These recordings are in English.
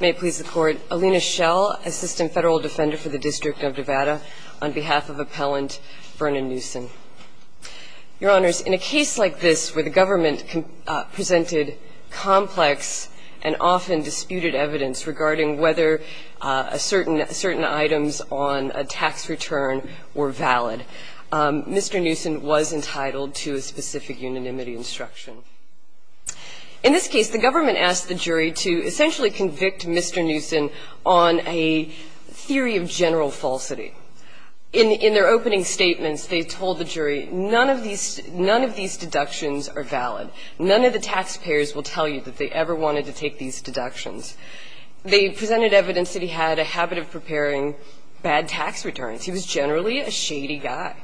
May it please the Court. Alina Schell, Assistant Federal Defender for the District of Nevada, on behalf of Appellant Vernon Newson. Your Honors, in a case like this where the government presented complex and often disputed evidence regarding whether certain items on a tax return were valid, Mr. Newson was entitled to a specific unanimity instruction. In this case, the government asked the jury to essentially convict Mr. Newson on a theory of general falsity. In their opening statements, they told the jury, none of these deductions are valid. None of the taxpayers will tell you that they ever wanted to take these deductions. They presented evidence that he had a habit of preparing bad tax returns. He was generally a shady guy.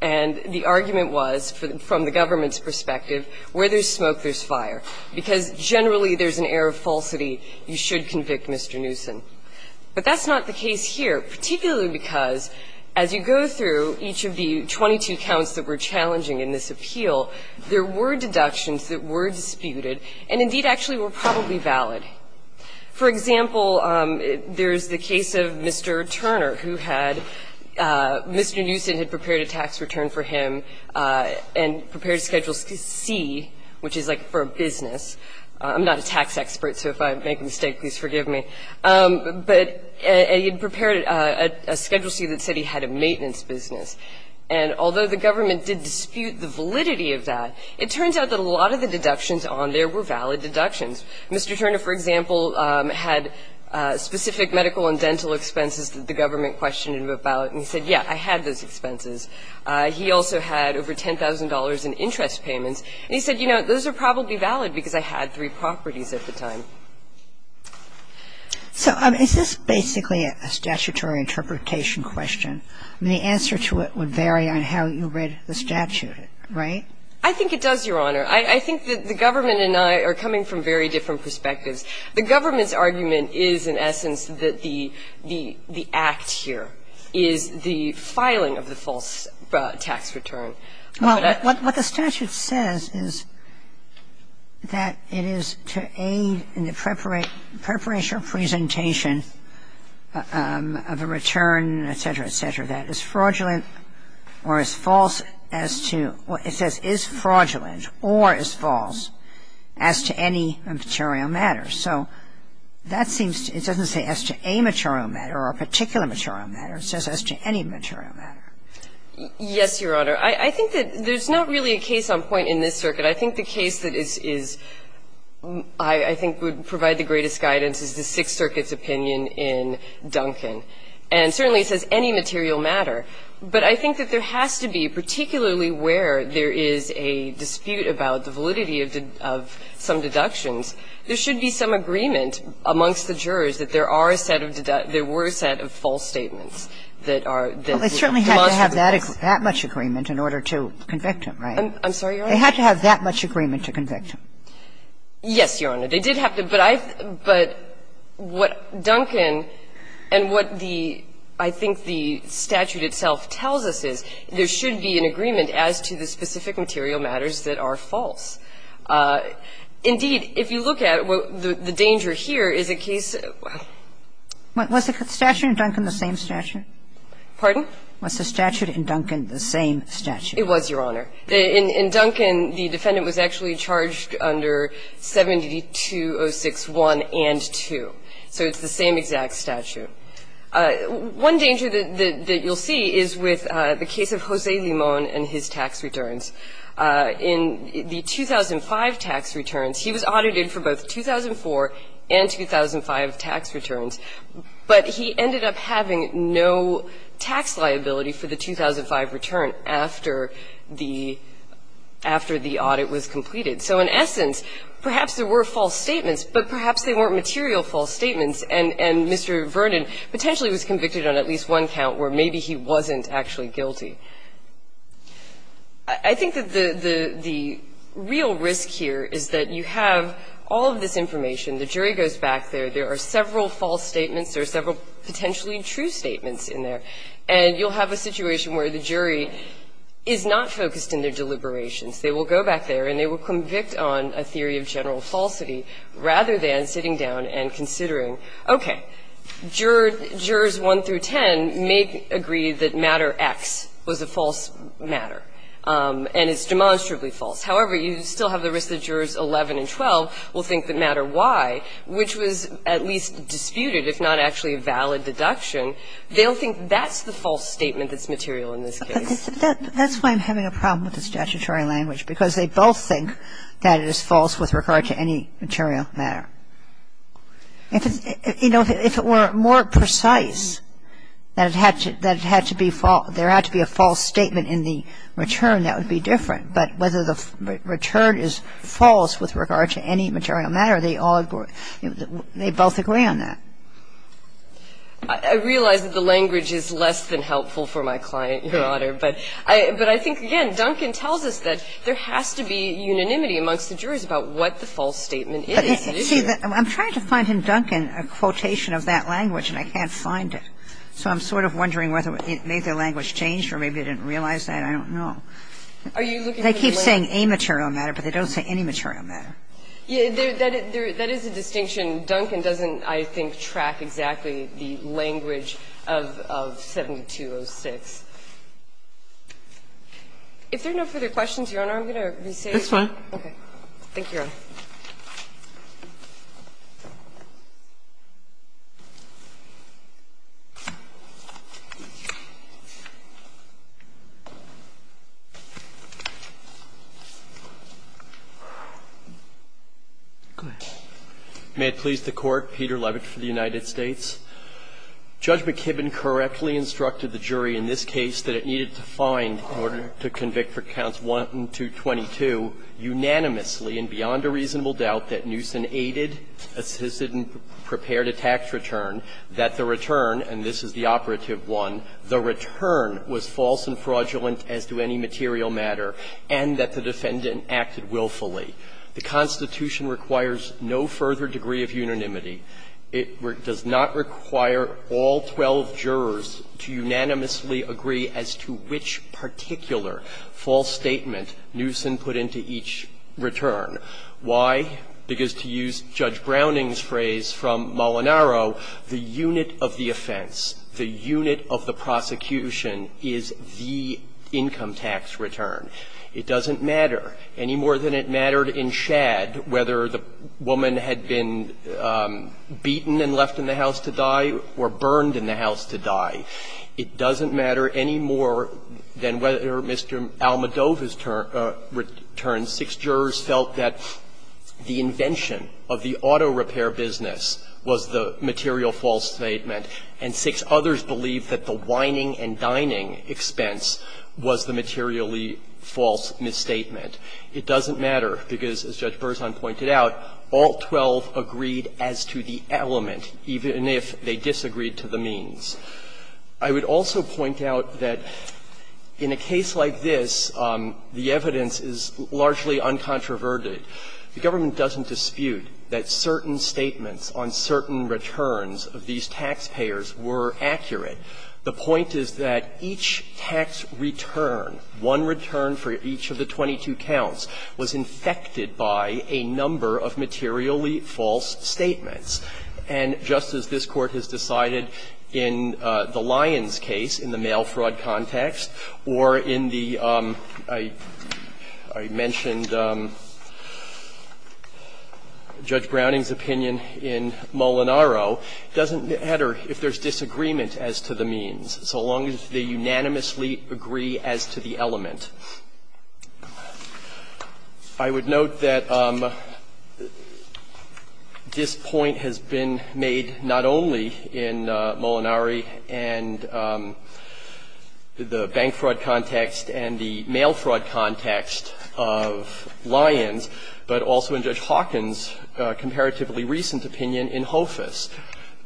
And the argument was, from the government's perspective, where there's smoke, there's fire, because generally there's an air of falsity. You should convict Mr. Newson. But that's not the case here, particularly because, as you go through each of the 22 counts that were challenging in this appeal, there were deductions that were disputed and indeed actually were probably valid. For example, there's the case of Mr. Turner, who had Mr. Newson had prepared a tax return for him and prepared Schedule C, which is like for a business. I'm not a tax expert, so if I make a mistake, please forgive me. But he had prepared a Schedule C that said he had a maintenance business. And although the government did dispute the validity of that, it turns out that a lot of the deductions on there were valid deductions. Mr. Turner, for example, had specific medical and dental expenses that the government questioned him about, and he said, yes, I had those expenses. He also had over $10,000 in interest payments. And he said, you know, those are probably valid because I had three properties at the time. So is this basically a statutory interpretation question? The answer to it would vary on how you read the statute, right? I think it does, Your Honor. I think that the government and I are coming from very different perspectives. The government's argument is, in essence, that the act here is the filing of the false tax return. What the statute says is that it is to aid in the preparation or presentation of a return, et cetera, et cetera, that is fraudulent or is false as to what it says is fraudulent or is false as to any material matter. So that seems to be, it doesn't say as to a material matter or a particular material matter. It says as to any material matter. Yes, Your Honor. I think that there's not really a case on point in this circuit. I think the case that is, I think would provide the greatest guidance is the Sixth Circuit's opinion in Duncan. And certainly it says any material matter. But I think that there has to be, particularly where there is a dispute about the validity of some deductions, there should be some agreement amongst the jurors that there are a set of, there were a set of false statements that are demonstrably false. Kagan in order to convict him, right? I'm sorry, Your Honor. They had to have that much agreement to convict him. Yes, Your Honor. They did have to. But I, but what Duncan and what the, I think the statute itself tells us is there should be an agreement as to the specific material matters that are false. Indeed, if you look at the danger here is a case of, well. Was the statute in Duncan the same statute? Pardon? Was the statute in Duncan the same statute? It was, Your Honor. In Duncan, the defendant was actually charged under 7206-1 and 2. So it's the same exact statute. One danger that you'll see is with the case of Jose Limon and his tax returns. In the 2005 tax returns, he was audited for both 2004 and 2005 tax returns. But he ended up having no tax liability for the 2005 return after the, after the audit was completed. So in essence, perhaps there were false statements, but perhaps they weren't material false statements, and Mr. Vernon potentially was convicted on at least one count where maybe he wasn't actually guilty. I think that the real risk here is that you have all of this information. The jury goes back there. There are several false statements. There are several potentially true statements in there. And you'll have a situation where the jury is not focused in their deliberations. They will go back there, and they will convict on a theory of general falsity rather than sitting down and considering, okay, jurors 1 through 10 may agree that matter X was a false matter, and it's demonstrably false. However, you still have the risk that jurors 11 and 12 will think that matter Y, which was at least disputed, if not actually a valid deduction, they'll think that's the false statement that's material in this case. That's why I'm having a problem with the statutory language, because they both think that it is false with regard to any material matter. You know, if it were more precise that it had to be false, there had to be a false statement in the return that would be different. But whether the return is false with regard to any material matter, they all agree on that. They both agree on that. I realize that the language is less than helpful for my client, Your Honor, but I think, again, Duncan tells us that there has to be unanimity amongst the jurors about what the false statement is. See, I'm trying to find in Duncan a quotation of that language, and I can't find it. So I'm sort of wondering whether it made their language change or maybe they didn't realize that. I don't know. Are you looking for the language? They keep saying a material matter, but they don't say any material matter. Yeah, that is a distinction. Duncan doesn't, I think, track exactly the language of 7206. If there are no further questions, Your Honor, I'm going to re-say it. That's fine. Okay. Thank you, Your Honor. Go ahead. May it please the Court. Peter Levitt for the United States. Judge McKibben correctly instructed the jury in this case that it needed to find, in order to convict for counts 1 and 222, unanimously and beyond a reasonable doubt that Newsom aided, assisted, and prepared a tax return, that the return, and this is the operative one, the return was false and fraudulent as to any material matter, and that the defendant acted willfully. The Constitution requires no further degree of unanimity. It does not require all 12 jurors to unanimously agree as to which particular false statement Newsom put into each return. Why? Because to use Judge Browning's phrase from Molinaro, the unit of the offense, the unit of the prosecution is the income tax return. It doesn't matter. Any more than it mattered in Shad whether the woman had been beaten and left in the house to die or burned in the house to die. It doesn't matter any more than whether Mr. Almodova's return, six jurors felt that the invention of the auto repair business was the material false statement, and six others believed that the wining and dining expense was the materially false misstatement. It doesn't matter because, as Judge Berzon pointed out, all 12 agreed as to the element, even if they disagreed to the means. I would also point out that in a case like this, the evidence is largely uncontroverted. The government doesn't dispute that certain statements on certain returns of these taxpayers were accurate. The point is that each tax return, one return for each of the 22 counts, was infected by a number of materially false statements. And just as this Court has decided in the Lyons case in the mail fraud context or in the, I mentioned Judge Browning's opinion in Molinaro, doesn't matter if there's disagreement as to the means, so long as they unanimously agree as to the element. I would note that this point has been made not only in Molinari and the bank fraud context and the mail fraud context of Lyons, but also in Judge Hawkins' comparatively recent opinion in Hoafis,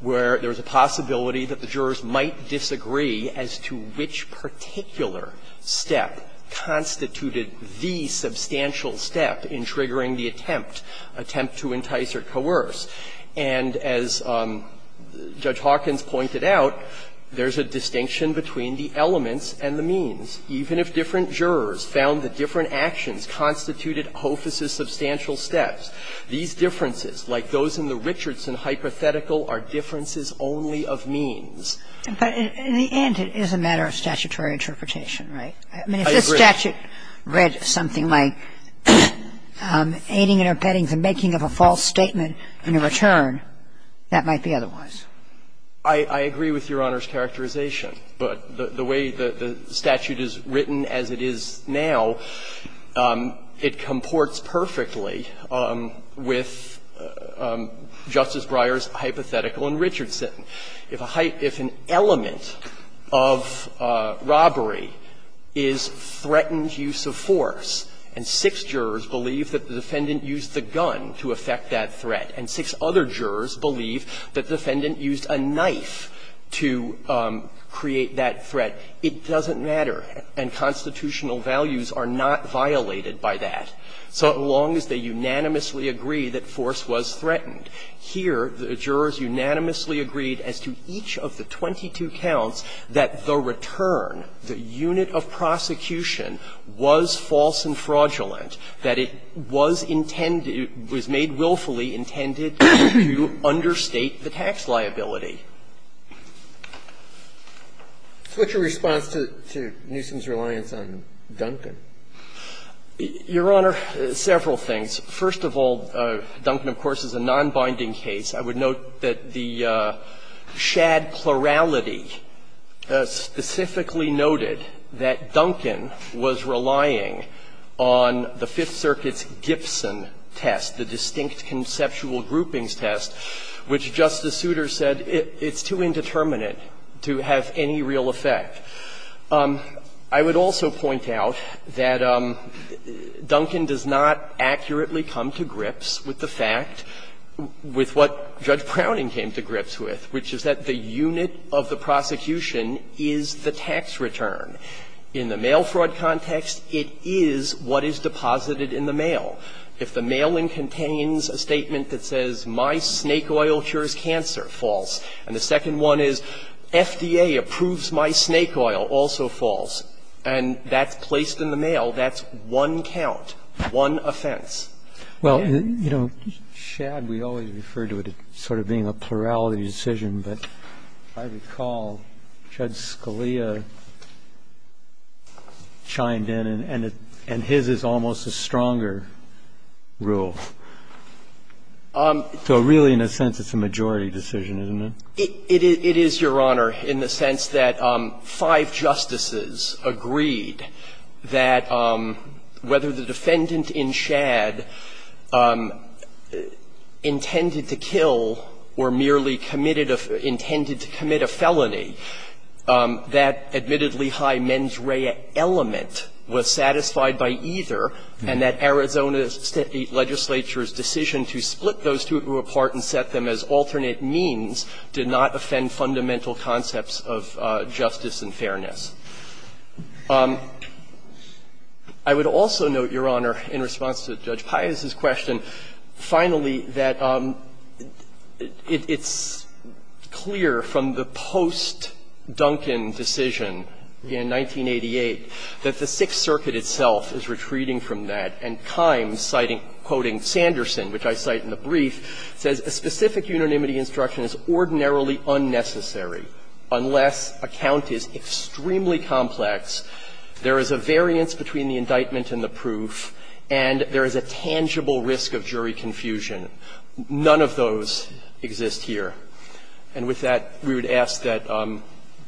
where there's a possibility that the jurors might disagree as to which particular step constituted the substantial step in triggering the attempt, attempt to entice or coerce. And as Judge Hawkins pointed out, there's a distinction between the elements and the means. Even if different jurors found that different actions constituted Hoafis' substantial steps, these differences, like those in the Richardson hypothetical, are differences only of means. But in the end, it is a matter of statutory interpretation, right? I mean, if this statute read something like aiding and abetting the making of a false statement and a return, that might be otherwise. I agree with Your Honor's characterization. But the way the statute is written as it is now, it comports perfectly with Justice Breyer's hypothetical in Richardson. If a height – if an element of robbery is threatened use of force, and six jurors believe that the defendant used the gun to affect that threat, and six other jurors believe that the defendant used a knife to create that threat, it doesn't matter. And constitutional values are not violated by that, so long as they unanimously agree that force was threatened. Here, the jurors unanimously agreed as to each of the 22 counts that the return, the unit of prosecution, was false and fraudulent, that it was intended – was made willfully intended to understate the tax liability. So what's your response to Newsom's reliance on Duncan? Your Honor, several things. First of all, Duncan, of course, is a nonbinding case. I would note that the Shad plurality specifically noted that Duncan was relying on the Fifth Circuit's Gibson test, the distinct conceptual groupings test, which Justice Souter said it's too indeterminate to have any real effect. I would also point out that Duncan does not accurately come to grips with the fact with what Judge Browning came to grips with, which is that the unit of the prosecution is the tax return. In the mail fraud context, it is what is deposited in the mail. If the mailing contains a statement that says, my snake oil cures cancer, false. And the second one is, FDA approves my snake oil, also false. And that's placed in the mail. That's one count, one offense. Well, you know, Shad, we always refer to it as sort of being a plurality decision. But if I recall, Judge Scalia chimed in, and his is almost a stronger rule. So really, in a sense, it's a majority decision, isn't it? It is, Your Honor, in the sense that five justices agreed that whether the defendant in Shad intended to kill or merely committed a fee or intended to commit a felony, that admittedly high mens rea element was satisfied by either, and that Arizona State legislature's decision to split those two apart and set them as alternate means did not offend fundamental concepts of justice and fairness. I would also note, Your Honor, in response to Judge Pius's question, finally, that it's clear from the post-Duncan decision in 1988 that the Sixth Circuit itself is retreating from that, and Kimes citing, quoting Sanderson, which I cite in the There is a variance between the indictment and the proof, and there is a tangible risk of jury confusion. None of those exist here. And with that, we would ask that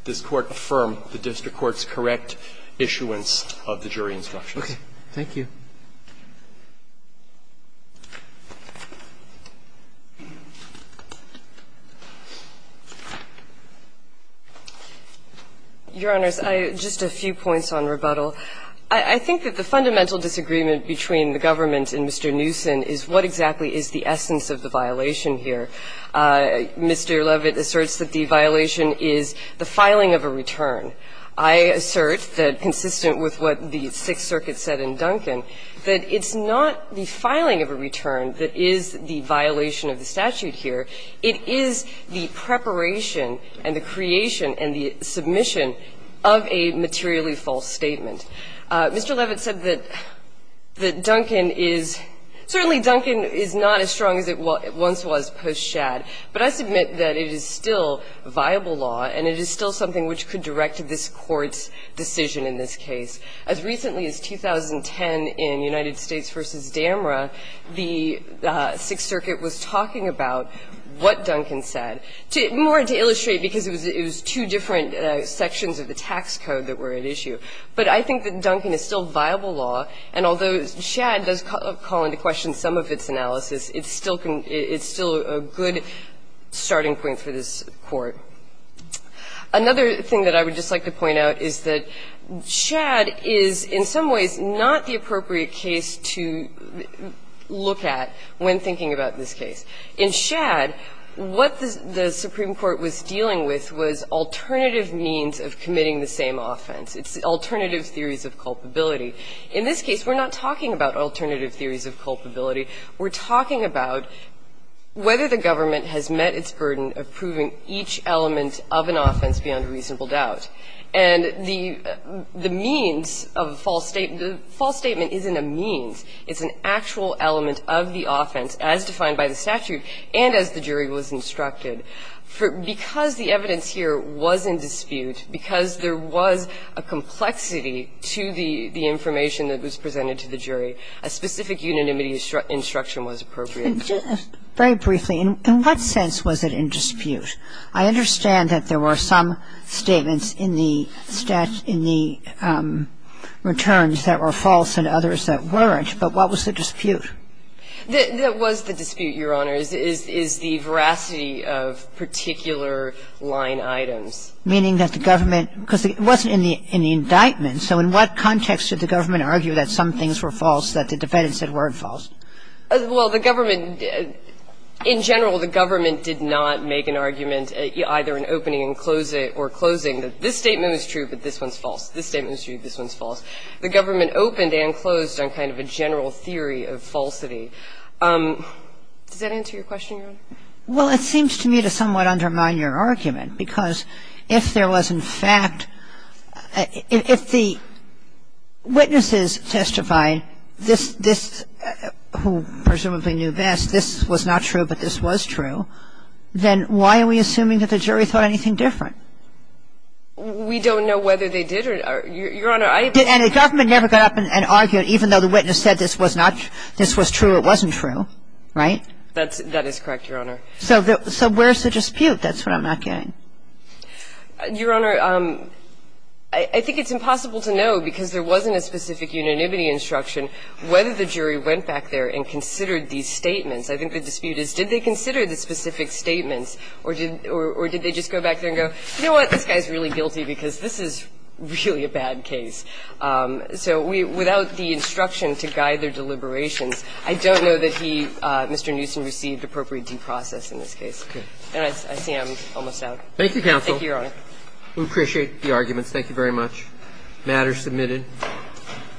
this Court affirm the district court's correct issuance of the jury instructions. Roberts, thank you. Your Honors, I have just a few points on rebuttal. I think that the fundamental disagreement between the government and Mr. Newsom is what exactly is the essence of the violation here. Mr. Levitt asserts that the violation is the filing of a return. I assert that, consistent with what the Sixth Circuit said in Duncan, that it's not the filing of a return that is the violation of the statute here. It is the preparation and the creation and the submission of a materially false statement. Mr. Levitt said that Duncan is – certainly, Duncan is not as strong as it once was post-Shad. But I submit that it is still viable law and it is still something which could have directed this Court's decision in this case. As recently as 2010 in United States v. Damra, the Sixth Circuit was talking about what Duncan said, more to illustrate, because it was two different sections of the tax code that were at issue. But I think that Duncan is still viable law, and although Shad does call into question some of its analysis, it's still a good starting point for this Court. Another thing that I would just like to point out is that Shad is in some ways not the appropriate case to look at when thinking about this case. In Shad, what the Supreme Court was dealing with was alternative means of committing the same offense. It's alternative theories of culpability. In this case, we're not talking about alternative theories of culpability. We're talking about whether the government has met its burden of proving each element of an offense beyond a reasonable doubt. And the means of a false statement, the false statement isn't a means. It's an actual element of the offense, as defined by the statute and as the jury was instructed. Because the evidence here was in dispute, because there was a complexity to the information that was presented to the jury, a specific unanimity instruction was appropriate. And just very briefly, in what sense was it in dispute? I understand that there were some statements in the statute, in the returns that were false and others that weren't, but what was the dispute? That was the dispute, Your Honor, is the veracity of particular line items. Meaning that the government – because it wasn't in the indictment, so in what context did the government argue that some things were false, that the defendants said weren't false? Well, the government – in general, the government did not make an argument either in opening and closing that this statement was true, but this one's false, this statement was true, this one's false. The government opened and closed on kind of a general theory of falsity. Does that answer your question, Your Honor? Well, it seems to me to somewhat undermine your argument, because if there was in fact a dispute, and the government did not make an argument that this was not true, but this was true, then why are we assuming that the jury thought anything different? We don't know whether they did or – Your Honor, I think the government never got up and argued even though the witness said this was not – this was true or it wasn't true, right? That is correct, Your Honor. So where's the dispute? That's what I'm not getting. Your Honor, I think it's impossible to know, because there wasn't a specific unanimity instruction, whether the jury went back there and considered these statements. I think the dispute is, did they consider the specific statements, or did they just go back there and go, you know what, this guy's really guilty because this is really a bad case. So without the instruction to guide their deliberations, I don't know that he, Mr. Newsom, received appropriate due process in this case. And I see I'm almost out. Thank you, counsel. Thank you, Your Honor. We appreciate the arguments. Thank you very much. The matter is submitted.